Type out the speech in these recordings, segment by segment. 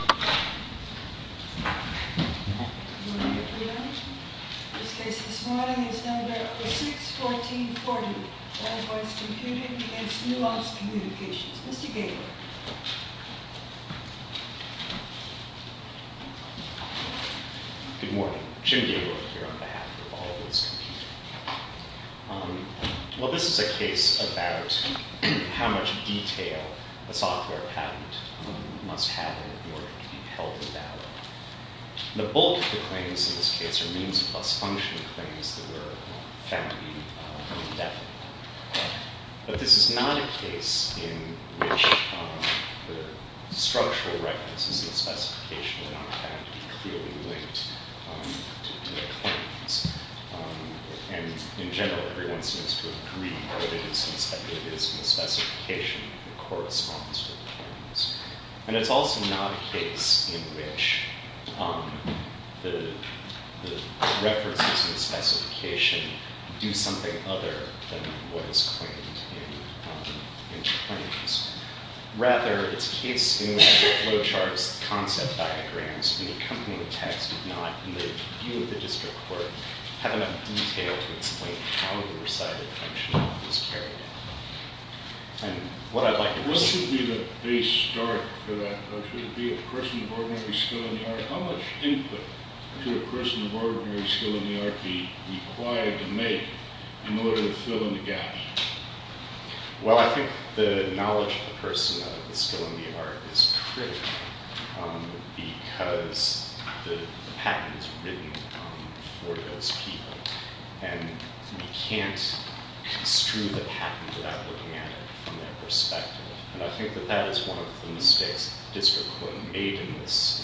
Good morning, Jim Gabler here on behalf of Allvoice Computing. Well, this is a case about how much detail a software patent must have in order to be held in ballot. The bulk of the claims in this case are means plus function claims that were found to be indefinite. But this is not a case in which the structural references in the specification do not have to be clearly linked to the claims. And in general, everyone seems to agree that it is in the specification that corresponds to the claims. And it's also not a case in which the references in the specification do something other than what is claimed in the claims. Rather, it's a case in which the flowcharts, concept diagrams, and the accompanying text do not, in the view of the district court, have enough detail to explain how the recited function was carried out. What should be the base start for that? Or should it be a person of ordinary skill in the art? How much input should a person of ordinary skill in the art be required to make in order to fill in the gap? Well, I think the knowledge of the person of the skill in the art is critical because the patent is written for those people. And we can't construe the patent without looking at it from their perspective. And I think that that is one of the mistakes the district court made in this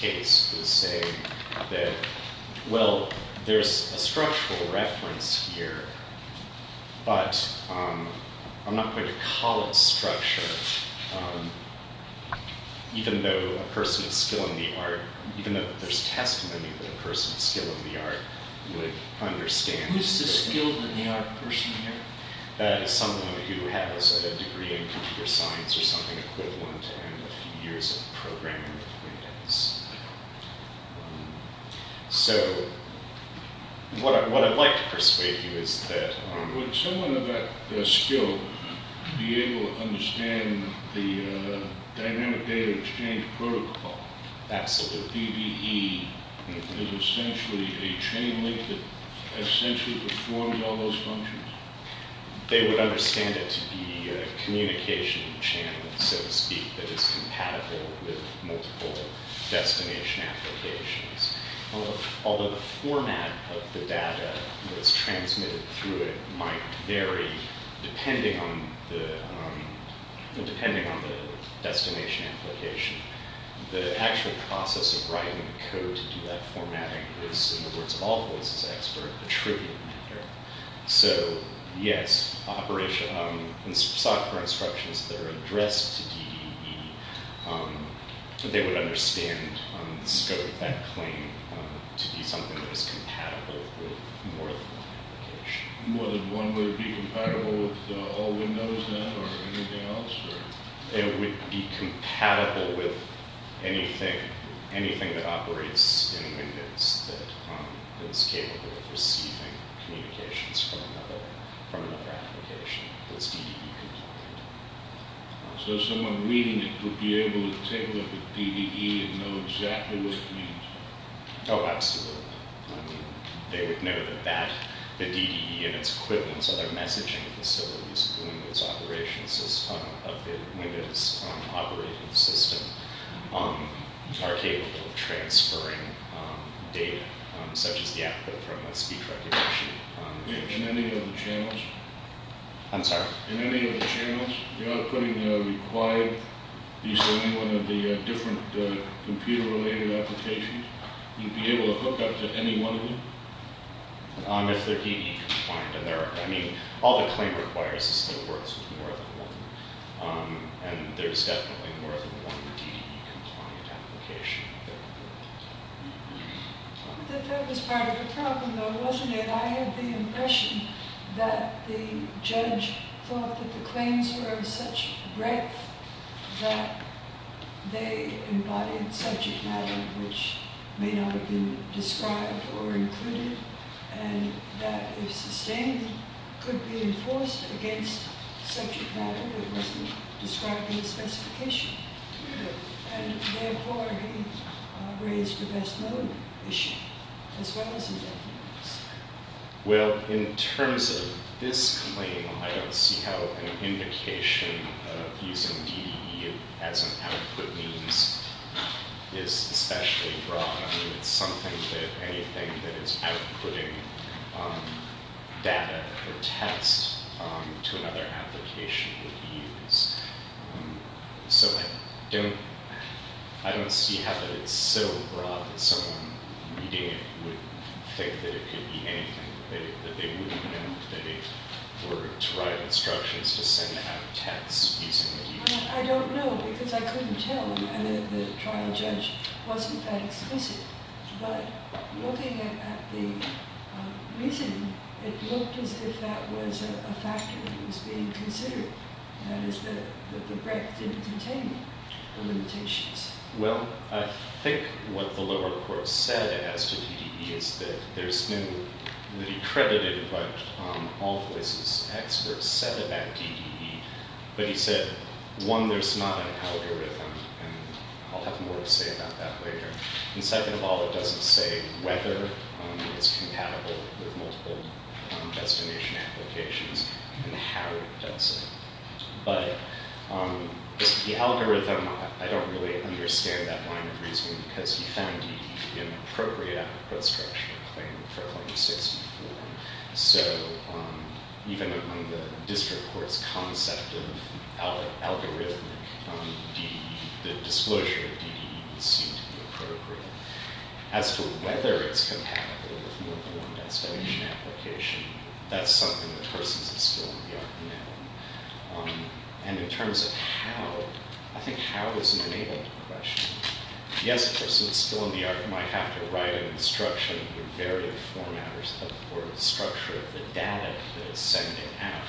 case, was saying that, well, there's a structural reference here, but I'm not going to call it structure, even though there's testimony that a person of skill in the art would understand. Who's the skilled in the art person here? That is someone who has a degree in computer science or something equivalent and a few years of programming acquaintance. So what I'd like to persuade you is that- Would someone of that skill be able to understand the dynamic data exchange protocol? Absolutely. The DBE is essentially a chain link that essentially performs all those functions? They would understand it to be a communication channel, so to speak, that is compatible with multiple destination applications. Although the format of the data that's transmitted through it might vary depending on the destination application, the actual process of writing the code to do that formatting is, in the words of all voices expert, a trivial matter. So yes, software instructions that are addressed to DBE, they would understand the scope of that claim to be something that is compatible with more than one application. Would one be compatible with all windows then or anything else? It would be compatible with anything that operates in Windows that is capable of receiving communications from another application that's DBE compliant. So someone reading it would be able to take a look at DBE and know exactly what it means? Oh, absolutely. They would know that the DBE and its equivalents, other messaging facilities of the Windows operating system, are capable of transferring data, such as the output from a speech recognition. In any of the channels? I'm sorry? In any of the channels, you're not putting the required- In any one of the different computer-related applications? You'd be able to hook up to any one of them? If they're DBE-compliant. I mean, all the claim requires is that it works with more than one. And there's definitely more than one DBE-compliant application. That was part of the problem, though, wasn't it? I had the impression that the judge thought that the claims were of such breadth that they embodied subject matter which may not have been described or included, and that if sustained, could be enforced against subject matter that wasn't described in the specification. And therefore, he raised the best mode issue, as well as his evidence. Well, in terms of this claim, I don't see how an indication of using DBE as an output means is especially broad. I mean, it's something that anything that is outputting data or text to another application would use. So I don't see how that it's so broad that someone reading it would think that it could be anything, that they wouldn't know that it were to write instructions to send out texts using DBE. I don't know, because I couldn't tell. And the trial judge wasn't that explicit. But looking at the reason, it looked as if that was a factor that was being considered. That is, that the breadth didn't contain the limitations. Well, I think what the lower court said as to DBE is that there's no, that he credited what all voices, experts said about DBE. But he said, one, there's not an algorithm. And I'll have more to say about that later. And second of all, it doesn't say whether it's compatible with multiple destination applications. And how it does it. But the algorithm, I don't really understand that line of reasoning. Because he found DBE inappropriate as a construction claim for Claim 64. So even among the district court's concept of algorithmic DBE, the disclosure of DBE seemed to be appropriate. As to whether it's compatible with multiple destination applications, that's something that persons at school in the arc know. And in terms of how, I think how is an enabling question. Yes, a person at school in the arc might have to write an instruction with varying format or structure of the data that it's sending out.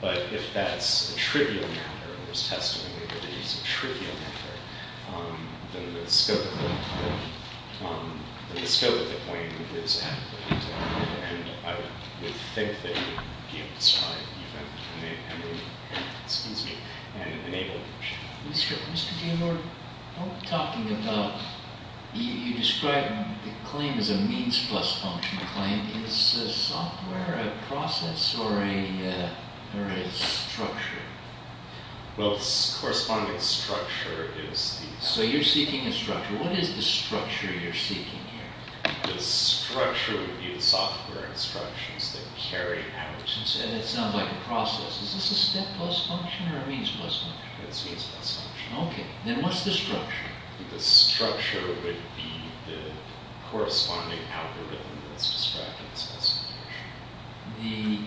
But if that's a trivial matter, and there's testimony that it is a trivial matter, then the scope of the claim is adequate. And I would think that you would be able to describe an enabling question. Mr. Gilmour, you describe the claim as a means plus function claim. Is the software a process or a structure? Well, the corresponding structure is the... So you're seeking a structure. What is the structure you're seeking here? The structure would be the software instructions that carry out... Is this a step plus function or a means plus function? It's a means plus function. Okay. Then what's the structure? The structure would be the corresponding algorithm that's describing the destination. The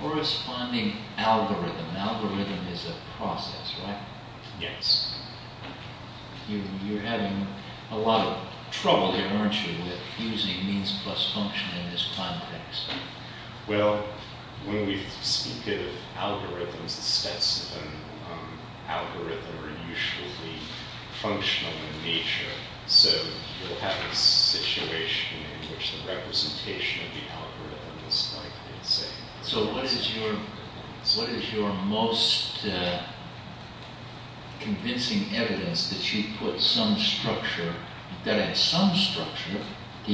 corresponding algorithm. The algorithm is a process, right? Yes. You're having a lot of trouble here, aren't you, with using means plus function in this context. Well, when we speak of algorithms, the steps of an algorithm are usually functional in nature. So you'll have a situation in which the representation of the algorithm is like, let's say... So what is your most convincing evidence that you put some structure... ...to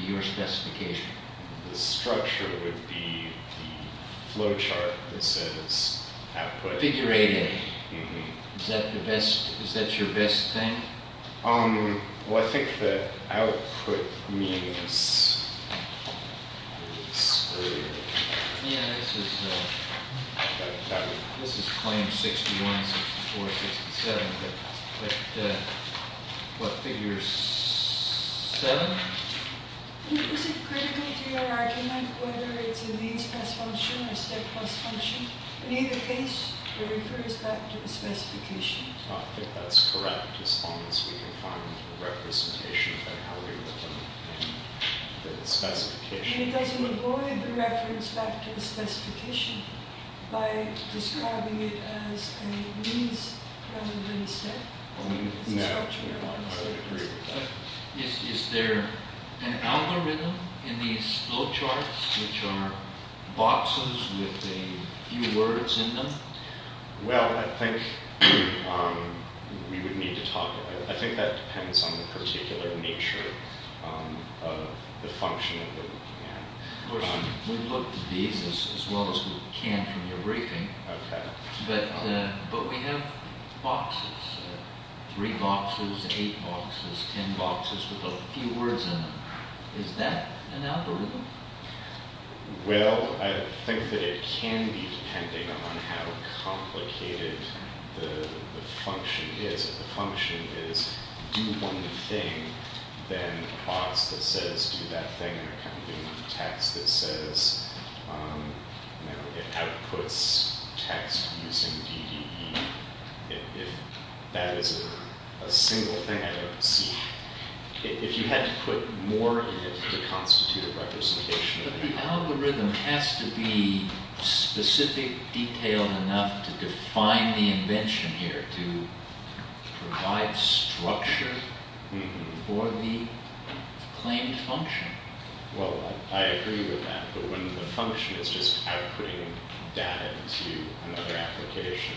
your specification? The structure would be the flowchart that says output... Figure 8A. Is that your best thing? Well, I think the output means... Yeah, this is claim 61, 64, 67, but what, figure 7? Is it critical to your argument whether it's a means plus function or a step plus function? In either case, it refers back to the specification. I think that's correct, as long as we can find the representation of the algorithm in the specification. And it doesn't avoid the reference back to the specification by describing it as a means rather than a step? No, I would agree with that. Is there an algorithm in these flowcharts which are boxes with a few words in them? Well, I think we would need to talk about it. I think that depends on the particular nature of the function that we're looking at. We've looked at these as well as we can from your briefing, but we have boxes. Three boxes, eight boxes, ten boxes with a few words in them. Is that an algorithm? Well, I think that it can be, depending on how complicated the function is. If the function is do one thing, then the box that says do that thing, and I kind of do the text that says, you know, it outputs text using DDE. If that is a single thing, I don't see, if you had to put more in it to constitute a representation. But the algorithm has to be specific, detailed enough to define the invention here, to provide structure for the claimed function. Well, I agree with that, but when the function is just outputting data into another application,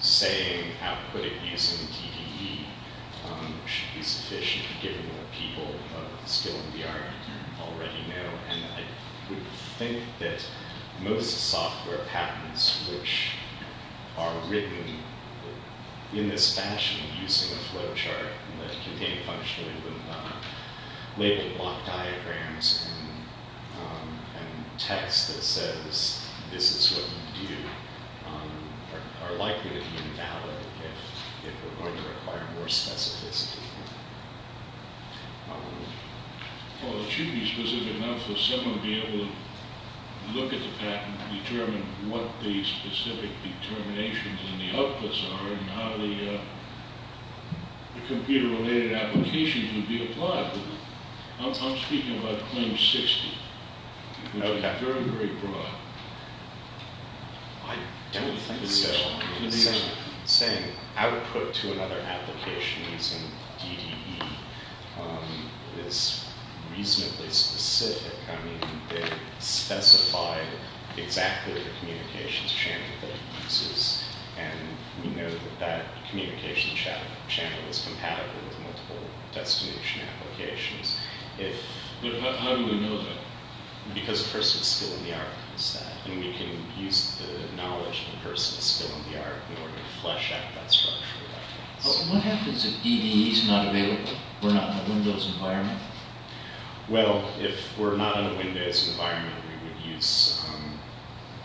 saying output it using DDE should be sufficient, given that people of skill in VR already know, and I would think that most software patterns which are written in this fashion, using a flowchart and the contained function, with labeled block diagrams and text that says this is what you do, are likely to be invalid if we're going to require more specificity. Well, it should be specific enough for someone to be able to look at the pattern and determine what the specific determinations and the outputs are, and how the computer-related applications would be applied. I'm speaking about Claim 60, which is very, very broad. I don't think so. Saying output to another application using DDE is reasonably specific. I mean, they specified exactly the communications channel that it uses, and we know that that communication channel is compatible with multiple destination applications. But how do we know that? Because a person of skill in VR knows that, and we can use the knowledge of a person of skill in VR in order to flesh out that structure. But what happens if DDE is not available? We're not in a Windows environment? Well, if we're not in a Windows environment, we would use...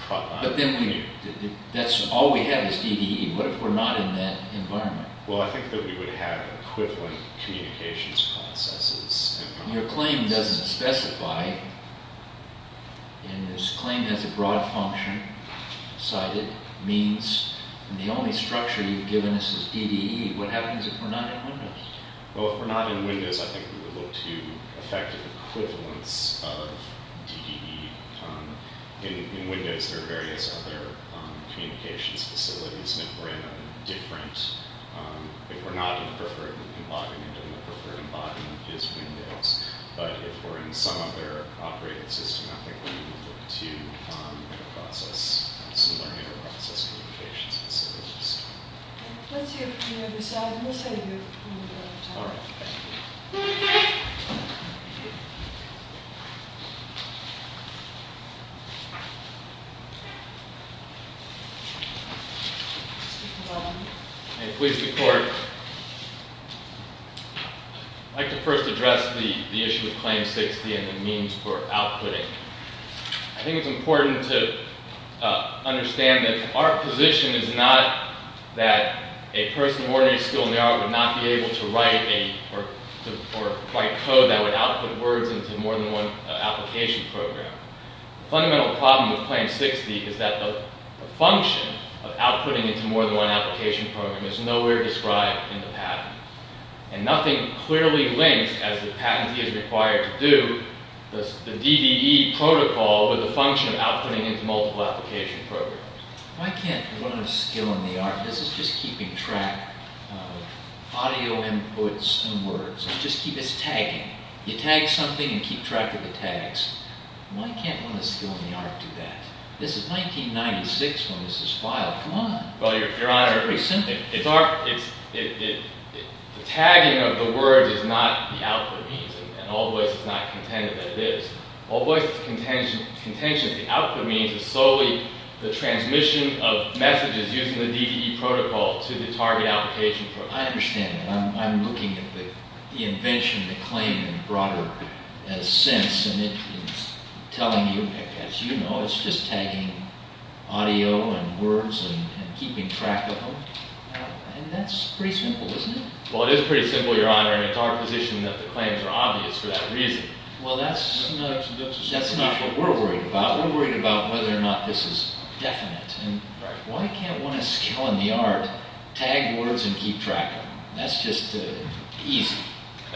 But then that's all we have is DDE. What if we're not in that environment? Well, I think that we would have equivalent communications processes. Your claim doesn't specify, and this claim has a broad function. It means the only structure you've given us is DDE. What happens if we're not in Windows? Well, if we're not in Windows, I think we would look to effective equivalence of DDE. In Windows, there are various other communications facilities, and if we're in a different... But if we're in some other operating system, I think we would look to similar inter-process communications facilities. Let's hear from the other side, and we'll save you a little bit of time. All right. May I please report? I'd like to first address the issue of Claim 60 and the means for outputting. I think it's important to understand that our position is not that a person with ordinary skill in the art would not be able to write code that would output words into more than one application program. The fundamental problem with Claim 60 is that the function of outputting into more than one application program is nowhere described in the patent, and nothing clearly links, as the patentee is required to do, the DDE protocol with the function of outputting into multiple application programs. Why can't one with a skill in the art... This is just keeping track of audio inputs and words. It just keeps tagging. You tag something and keep track of the tags. Why can't one with a skill in the art do that? This is 1996 when this was filed. Come on. Well, Your Honor, the tagging of the words is not the output means, and All Voice is not contented that it is. All Voice's contention that the output means is solely the transmission of messages using the DDE protocol to the target application program. I understand that. I'm looking at the invention of the claim in a broader sense, and it's telling you, as you know, it's just tagging audio and words and keeping track of them. That's pretty simple, isn't it? Well, it is pretty simple, Your Honor, and it's our position that the claims are obvious for that reason. Well, that's not what we're worried about. We're worried about whether or not this is definite. Why can't one with a skill in the art tag words and keep track of them? That's just easy.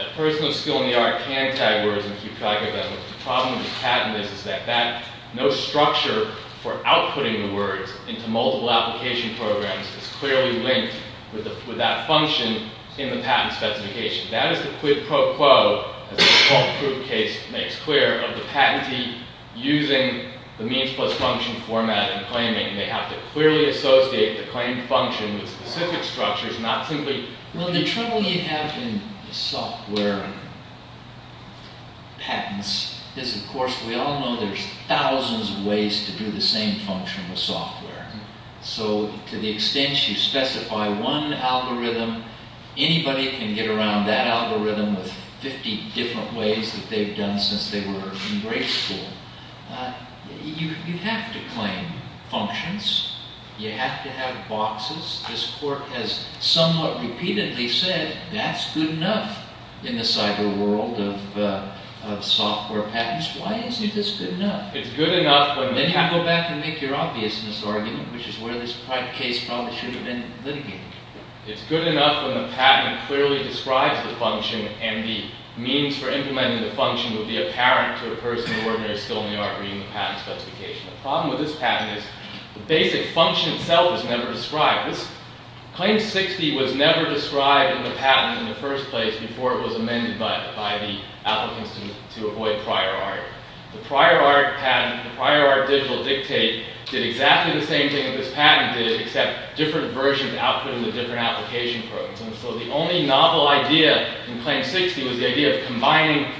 A person with skill in the art can tag words and keep track of them. The problem with the patent is that no structure for outputting the words into multiple application programs is clearly linked with that function in the patent specification. That is the quid pro quo, as the fault proof case makes clear, of the patentee using the means plus function format in claiming. They have to clearly associate the claimed function with specific structures, not simply... Well, the trouble you have in software patents is, of course, we all know there's thousands of ways to do the same function with software. So, to the extent you specify one algorithm, anybody can get around that algorithm with 50 different ways that they've done since they were in grade school. You have to claim functions. You have to have boxes. This court has somewhat repeatedly said, that's good enough in the cyber world of software patents. Why isn't this good enough? Then you go back and make your obviousness argument, which is where this case probably should have been litigated. It's good enough when the patent clearly describes the function and the means for implementing the function would be apparent to a person with ordinary skill in the art reading the patent specification. The problem with this patent is the basic function itself is never described. Claim 60 was never described in the patent in the first place before it was amended by the applicants to avoid prior art. The prior art patent, the prior art digital dictate, did exactly the same thing that this patent did, except different versions output in the different application programs. And so the only novel idea in Claim 60 was the idea of combining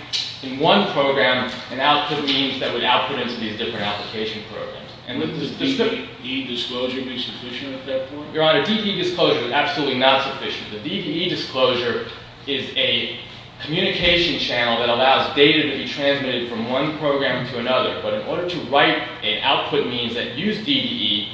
in one program an output means that would output into these different application programs. Would DDE disclosure be sufficient at that point? Your Honor, DDE disclosure is absolutely not sufficient. The DDE disclosure is a communication channel that allows data to be transmitted from one program to another. But in order to write an output means that used DDE,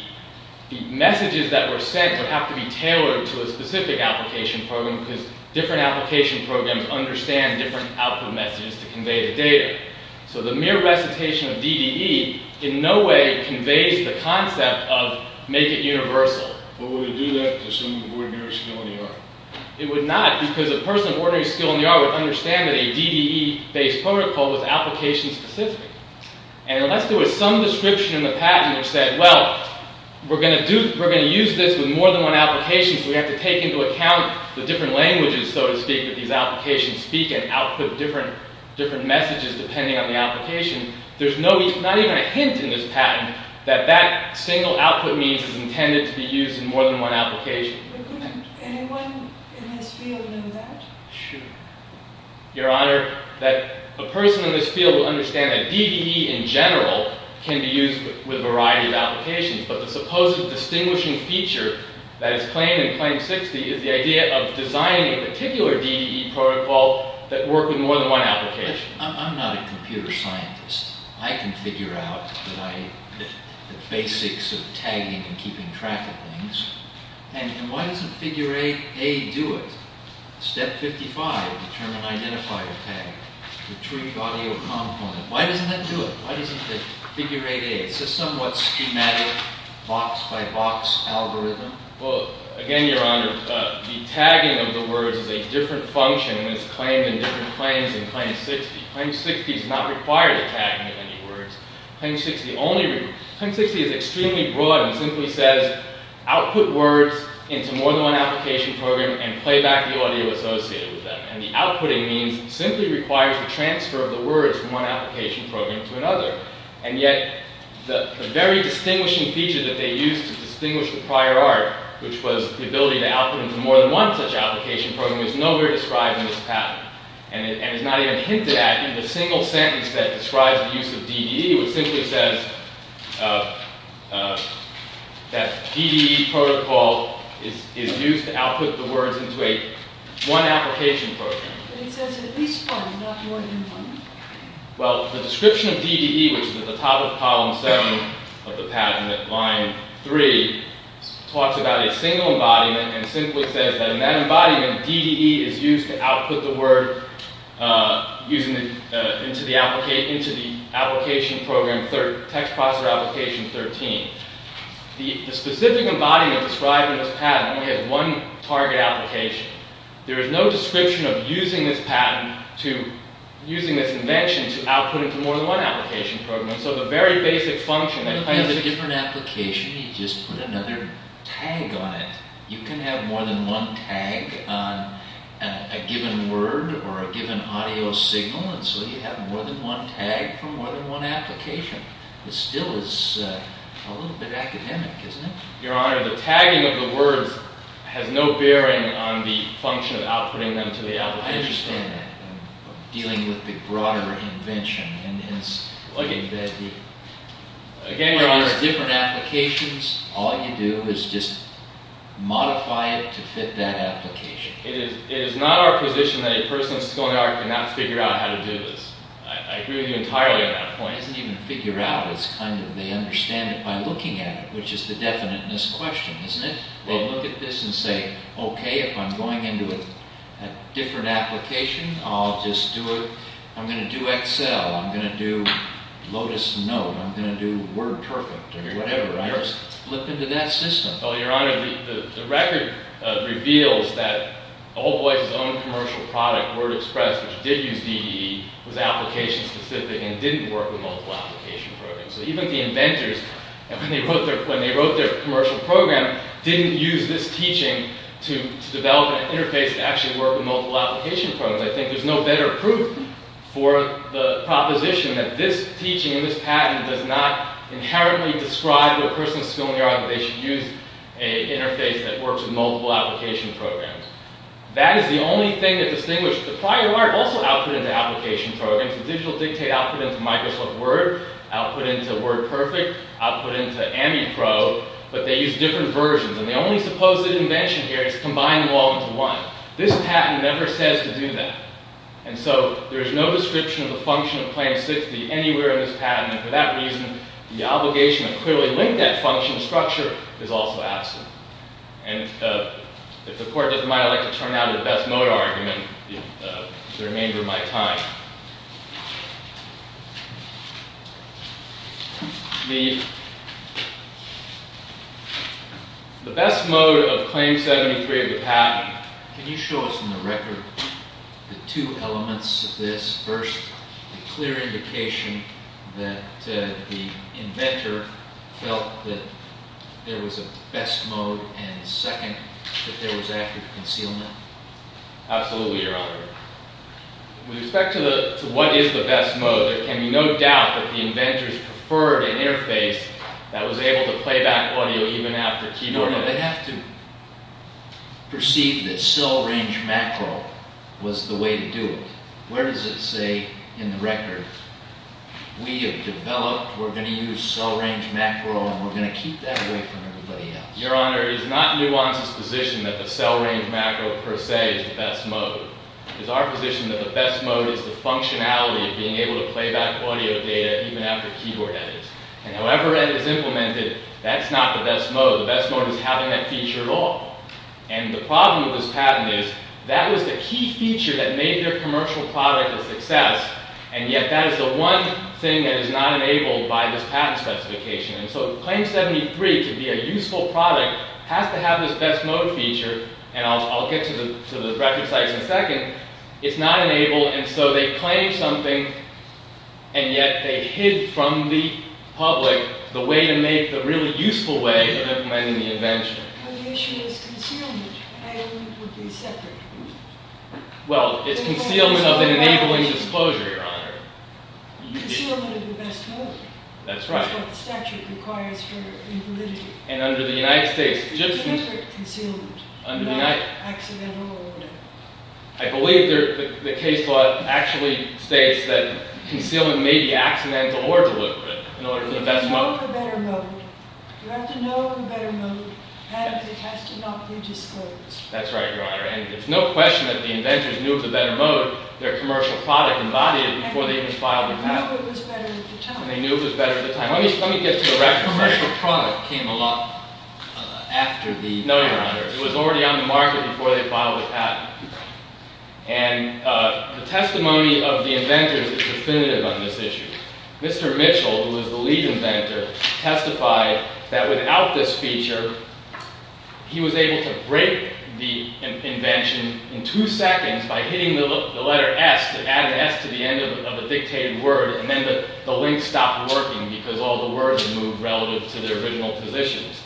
the messages that were sent would have to be tailored to a specific application program because different application programs understand different output messages to convey the data. So the mere recitation of DDE in no way conveys the concept of make it universal. But would it do that to someone who ordered mirror skill in the art? It would not because a person ordering skill in the art would understand that a DDE based protocol was application specific. And unless there was some description in the patent that said, well, we're going to use this with more than one application so we have to take into account the different languages, so to speak, that these applications speak and output different messages depending on the application, there's not even a hint in this patent that that single output means is intended to be used in more than one application. Would anyone in this field know that? Sure. Your Honor, a person in this field will understand that DDE in general can be used with a variety of applications, but the supposed distinguishing feature that is claimed in Claim 60 is the idea of designing a particular DDE protocol that worked with more than one application. I'm not a computer scientist. I can figure out the basics of tagging and keeping track of things. And why doesn't figure 8a do it? Step 55, determine identifier tag, retrieve audio component. Why doesn't that do it? Why doesn't figure 8a, it's a somewhat schematic box by box algorithm. Well, again, Your Honor, the tagging of the words is a different function and is claimed in different claims in Claim 60. Claim 60 does not require the tagging of any words. Claim 60 is extremely broad and simply says output words into more than one application program and play back the audio associated with them. And the outputting means it simply requires the transfer of the words from one application program to another. And yet the very distinguishing feature that they used to distinguish the prior art which was the ability to output into more than one such application program is nowhere described in this patent. And it's not even hinted at in the single sentence that describes the use of DDE. It simply says that DDE protocol is used to output the words into one application program. But it says at least one, not more than one. Well, the description of DDE, which is at the top of column 7 of the patent, line 3, talks about a single embodiment and simply says that in that embodiment DDE is used to output the word into the application program text processor application 13. The specific embodiment described in this patent only has one target application. There is no description of using this invention to output into more than one application program. So the very basic function... It's a different application. You just put another tag on it. You can have more than one tag on a given word or a given audio signal and so you have more than one tag from more than one application. It still is a little bit academic, isn't it? Your Honor, the tagging of the words has no bearing on the function of outputting them to the application. I don't understand that. I'm dealing with the broader invention. Again, Your Honor... Where there are different applications, all you do is just modify it to fit that application. It is not our position that a person's going to argue and not figure out how to do this. I agree with you entirely on that point. It isn't even figure out, it's kind of they understand it by looking at it, which is the definiteness question, isn't it? They look at this and say, okay, if I'm going into a different application, I'm going to do Excel, I'm going to do Lotus Note, I'm going to do Word Perfect, or whatever, right? Just flip into that system. Well, Your Honor, the record reveals that Old Boy's own commercial product, Word Express, which did use DDE, was application specific and didn't work with multiple application programs. So even the inventors, when they wrote their commercial program, didn't use this teaching to develop an interface that actually worked with multiple application programs. I think there's no better proof for the proposition that this teaching and this patent does not inherently describe the person's skill in their argument. They should use an interface that works with multiple application programs. That is the only thing that distinguishes... The prior art also output into application programs. The digital dictate output into Microsoft Word, output into Word Perfect, output into AmiPro, but they use different versions. And the only supposed invention here is to combine them all into one. This patent never says to do that. And so there is no description of the function of Plan 60 anywhere in this patent. And for that reason, the obligation to clearly link that function structure is also absent. And if the Court doesn't mind, I'd like to turn now to the best motor argument for the remainder of my time. The best mode of Claim 73 of the patent... Can you show us in the record the two elements of this? First, a clear indication that the inventor felt that there was a best mode, and second, that there was active concealment? Absolutely, Your Honor. With respect to what is the best mode, there can be no doubt that the inventors preferred an interface that was able to play back audio even after keyboard input. No, no, they have to perceive that cell range macro was the way to do it. Where does it say in the record, we have developed, we're going to use cell range macro, and we're going to keep that away from everybody else? Your Honor, it is not Nuance's position that the cell range macro per se is the best mode. It is our position that the best mode is the functionality of being able to play back audio data even after keyboard edits. And however it is implemented, that's not the best mode. The best mode is having that feature at all. And the problem with this patent is, that was the key feature that made their commercial product a success, and yet that is the one thing that is not enabled by this patent specification. And so Claim 73, to be a useful product, has to have this best mode feature, and I'll get to the record sites in a second, it's not enabled, and so they claim something, and yet they hid from the public the way to make, the really useful way of implementing the invention. But the issue is concealment, and it would be separate. Well, it's concealment of the enabling disclosure, Your Honor. Concealment of the best mode. That's what the statute requires for invalidity. It's a different concealment, not accidental or whatever. I believe the case law actually states that concealment may be accidental or deliberate. If you know the better mode, you have to know the better mode, and it has to not be disclosed. That's right, Your Honor. And it's no question that the inventors knew of the better mode, their commercial product embodied it before they even filed a patent. They knew it was better at the time. Let me get to the record site. The commercial product came along after the patent. No, Your Honor. It was already on the market before they filed a patent. And the testimony of the inventors is definitive on this issue. Mr. Mitchell, who was the lead inventor, testified that without this feature, he was able to break the invention in two seconds by hitting the letter S to add an S to the end of a dictated word, and then the link stopped working because all the words moved relative to their original positions.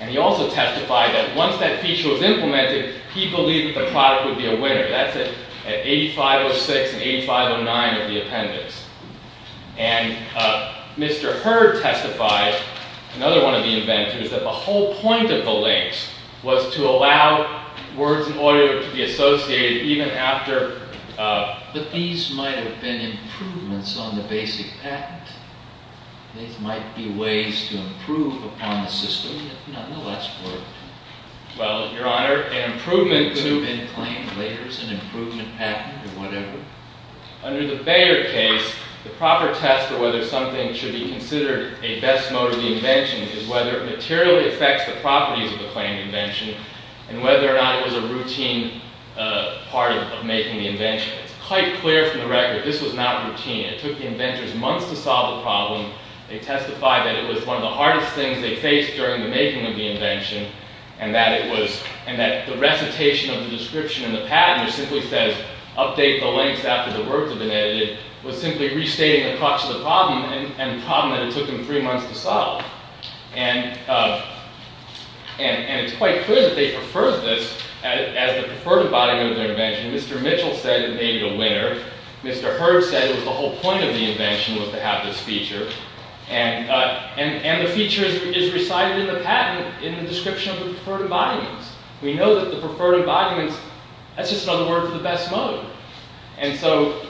And he also testified that once that feature was implemented, he believed that the product would be a winner. That's at 8506 and 8509 of the appendix. And Mr. Hurd testified, another one of the inventors, that the whole point of the links was to allow words and audio to be associated even after... But these might have been improvements on the basic patent. These might be ways to improve upon the system. Nonetheless, it worked. Well, Your Honor, an improvement to... It could have been claimed later as an improvement patent or whatever. Under the Bayer case, the proper test for whether something should be considered a best mode of the invention is whether it materially affects the properties of the claimed invention and whether or not it was a routine part of making the invention. It's quite clear from the record this was not routine. It took the inventors months to solve the problem. They testified that it was one of the hardest things they faced during the making of the invention and that the recitation of the description in the patent, which simply says update the links after the words have been edited, was simply restating the crux of the problem and a problem that it took them three months to solve. And it's quite clear that they preferred this as the preferred embodiment of the invention. Mr. Mitchell said it made it a winner. Mr. Hurd said the whole point of the invention was to have this feature. And the feature is recited in the patent in the description of the preferred embodiments. We know that the preferred embodiments... That's just another word for the best mode. And so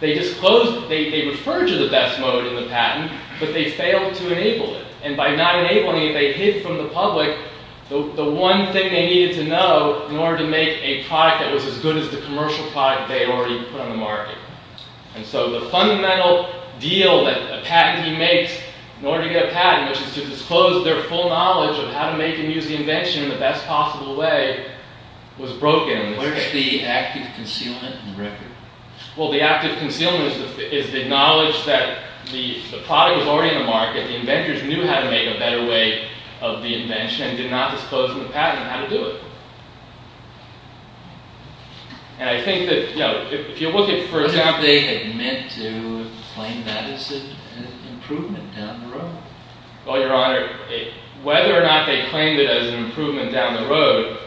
they disclosed... They referred to the best mode in the patent, but they failed to enable it. And by not enabling it, they hid from the public the one thing they needed to know in order to make a product that was as good as the commercial product they already put on the market. And so the fundamental deal that a patentee makes in order to get a patent, which is to disclose their full knowledge of how to make and use the invention in the best possible way, was broken in this case. Where's the active concealment in the record? Well, the active concealment is the knowledge that the product was already in the market, the inventors knew how to make a better way of the invention and did not disclose in the patent how to do it. And I think that, you know, if you look at, for example... What if they had meant to claim that as an improvement down the road? Well, Your Honor, whether or not they claimed it as an improvement down the road,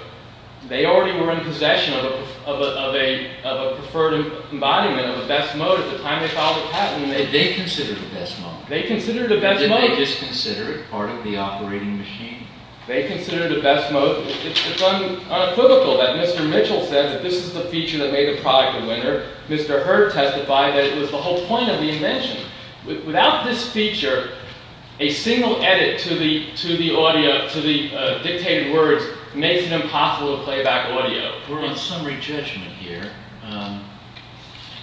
they already were in possession of a preferred embodiment of a best mode at the time they filed the patent. They considered it a best mode. They considered it a best mode. They didn't just consider it part of the operating machine. They considered it a best mode. It's unequivocal that Mr. Mitchell said that this is the feature that made the product a winner. Mr. Hurd testified that it was the whole point of the invention. Without this feature, a single edit to the dictated words makes it impossible to play back audio. We're on summary judgment here.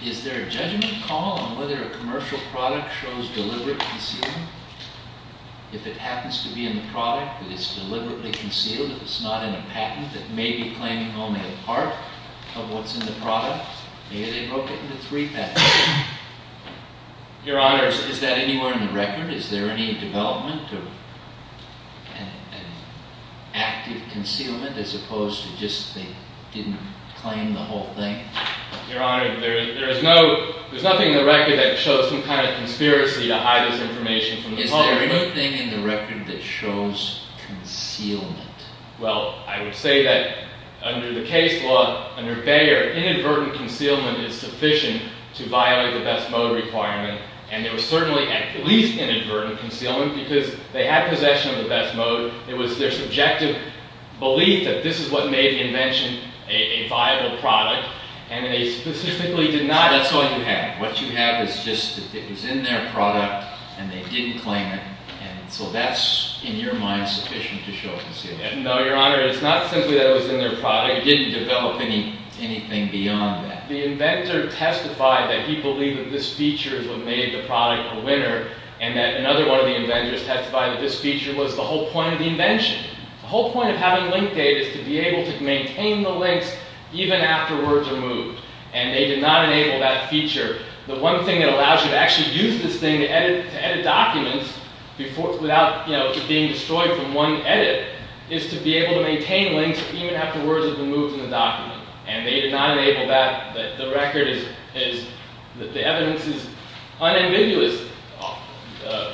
Is there a judgment call on whether a commercial product shows deliberate concealing? If it happens to be in the product, that it's deliberately concealed. If it's not in a patent, that may be claiming only a part of what's in the product. Maybe they broke it into three patents. Your Honor, is that anywhere in the record? Is there any development or active concealment as opposed to just they didn't claim the whole thing? Your Honor, there's nothing in the record that shows some kind of conspiracy to hide this information from the public. Is there anything in the record that shows concealment? Well, I would say that under the case law, under Bayer, inadvertent concealment is sufficient to violate the best mode requirement. And there was certainly at least inadvertent concealment because they had possession of the best mode. It was their subjective belief that this is what made the invention a viable product. And they specifically denied it. That's all you have. What you have is just that it was in their product and they didn't claim it. So that's, in your mind, sufficient to show concealment? No, Your Honor. It's not simply that it was in their product. It didn't develop anything beyond that. The inventor testified that he believed that this feature is what made the product a winner and that another one of the inventors testified that this feature was the whole point of the invention. The whole point of having link data is to be able to maintain the links even after words are moved. And they did not enable that feature. The one thing that allows you to actually use this thing to edit documents without it being destroyed from one edit is to be able to maintain links even after words have been moved in the document. And they did not enable that. The record is... The evidence is unambiguous.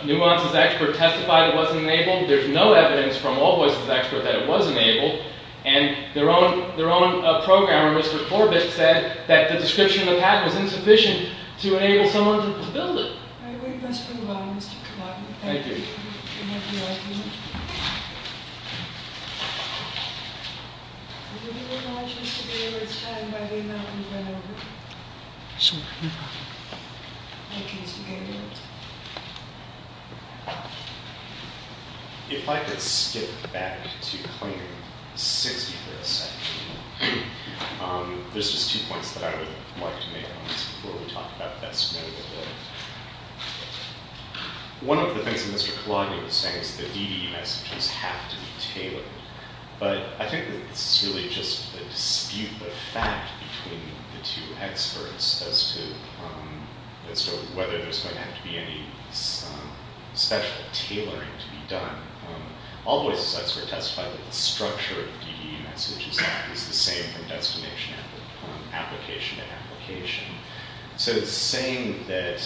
Nuance's expert testified it wasn't enabled. There's no evidence from Allvoice's expert that it was enabled. And their own programmer, Mr. Corbett, said that the description in the patent was insufficient to enable someone to build it. All right. We must move on, Mr. Kavak. Thank you. Thank you. Thank you, Your Honor. Do you think it's wise just to be able to tell by the amount we've been over? Yes, Your Honor. Thank you, Mr. Kavak. If I could skip back to claim 60%... There's just two points that I would like to make on this before we talk about best known. One of the things that Mr. Kalogny was saying is that DD messages have to be tailored. But I think that this is really just a dispute, a fact between the two experts as to whether there's going to have to be any special tailoring to be done. Allvoice's expert testified that the structure of the DD message is the same from destination application to application. So it's saying that...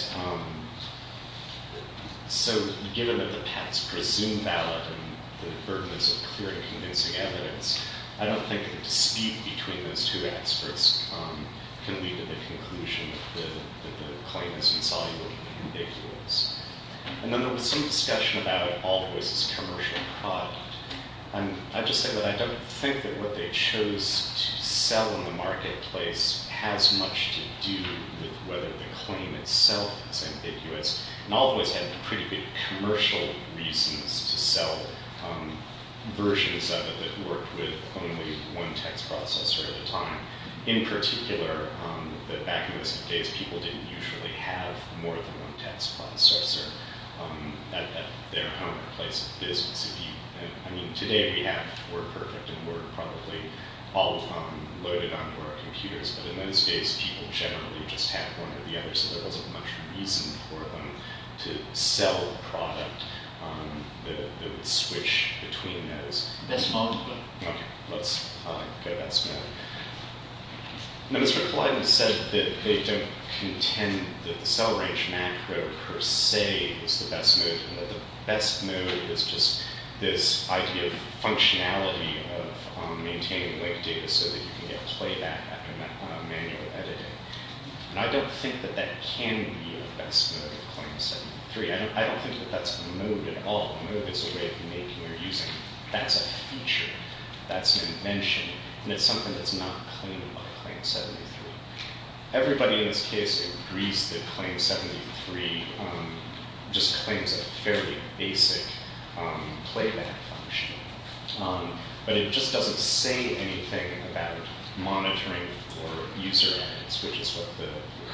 So given that the patents presume valid and the burden is of clear and convincing evidence, I don't think the dispute between those two experts can lead to the conclusion that the claim is insoluble and ambiguous. And then there was some discussion about Allvoice's commercial product. I'd just say that I don't think that what they chose to sell in the marketplace has much to do with whether the claim itself is ambiguous. And Allvoice had pretty good commercial reasons to sell versions of it that worked with only one text processor at a time. In particular, back in those days, people didn't usually have more than one text processor at their home or place of business. I mean, today we have WordPerfect and Word probably all loaded onto our computers. But in those days, people generally just had one or the other, so there wasn't much reason for them to sell product that would switch between those. Okay, let's go back to that. Now, Mr. Kalidin said that they don't contend that the cell range macro per se is the best mode, and that the best mode is just this idea of functionality of maintaining linked data so that you can get playback after manual editing. And I don't think that that can be a best mode of claim 73. I don't think that that's a mode at all. A mode is a way of making or using. That's a feature. That's an invention. And it's something that's not claimed by claim 73. Everybody in this case agrees that claim 73 just claims a fairly basic playback function. But it just doesn't say anything about monitoring for user ads, which is what the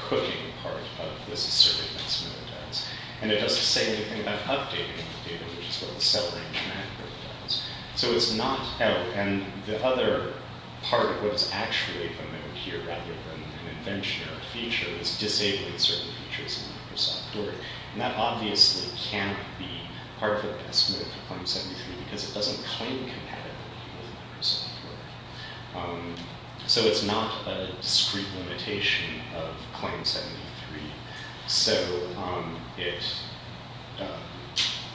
cooking part of this assertiveness mode does. And it doesn't say anything about updating the data, which is what the cell range macro does. So it's not... Oh, and the other part of what is actually a mode here rather than an invention or a feature is disabling certain features in Microsoft Word. And that obviously cannot be part of the best mode for claim 73 because it doesn't claim compatibility with Microsoft Word. So it's not a discrete limitation of claim 73. So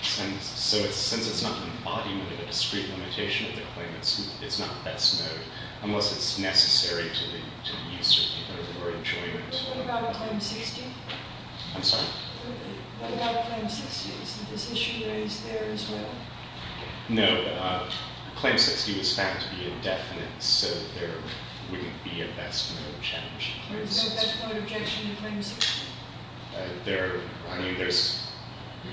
since it's not an embodiment of a discrete limitation of the claim, it's not the best mode, unless it's necessary to the user or enjoyment. What about claim 60? I'm sorry? What about claim 60? Is this issue raised there as well? No. Claim 60 was found to be indefinite, so there wouldn't be a best mode challenge. So there's no best mode objection to claim 60? I mean, there's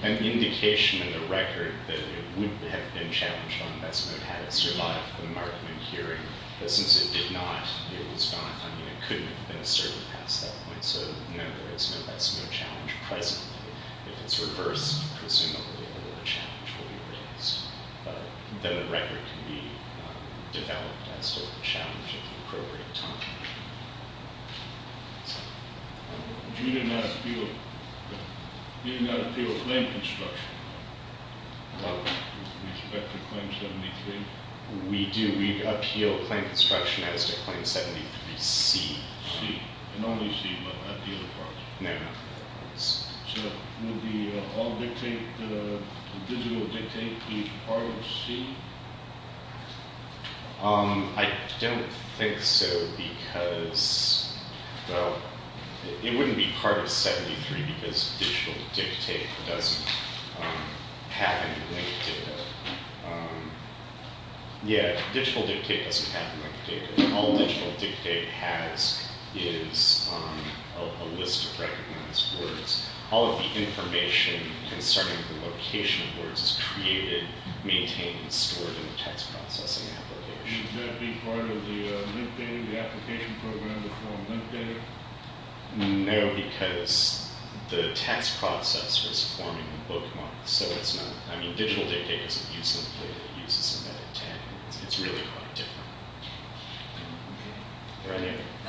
an indication in the record that it would have been challenged on best mode had it survived the Markman hearing. But since it did not, it was gone. I mean, it couldn't have been asserted past that point. So no, there is no best mode challenge presently. If it's reversed, presumably a better challenge will be raised. But then the record can be developed without that sort of challenge at the appropriate time. But you didn't appeal a claim construction? No. With respect to claim 73? We do. We appeal a claim construction as to claim 73C. C. Not only C, but at the other part. No, no. So would the law dictate, the digital dictate, to each part of C? I don't think so because, well, it wouldn't be part of 73 because digital dictate doesn't have any link to it. Yeah, digital dictate doesn't have any link to it. All digital dictate has is a list of recognized words. It's created, maintained, and stored in a text processing application. Should that be part of the application program to form dictate? No, because the text processor is forming the bookmark. So it's not. I mean, digital dictate doesn't use them. It uses a meta tag. It's really quite different. Are there any other questions? Thank you. Thank you.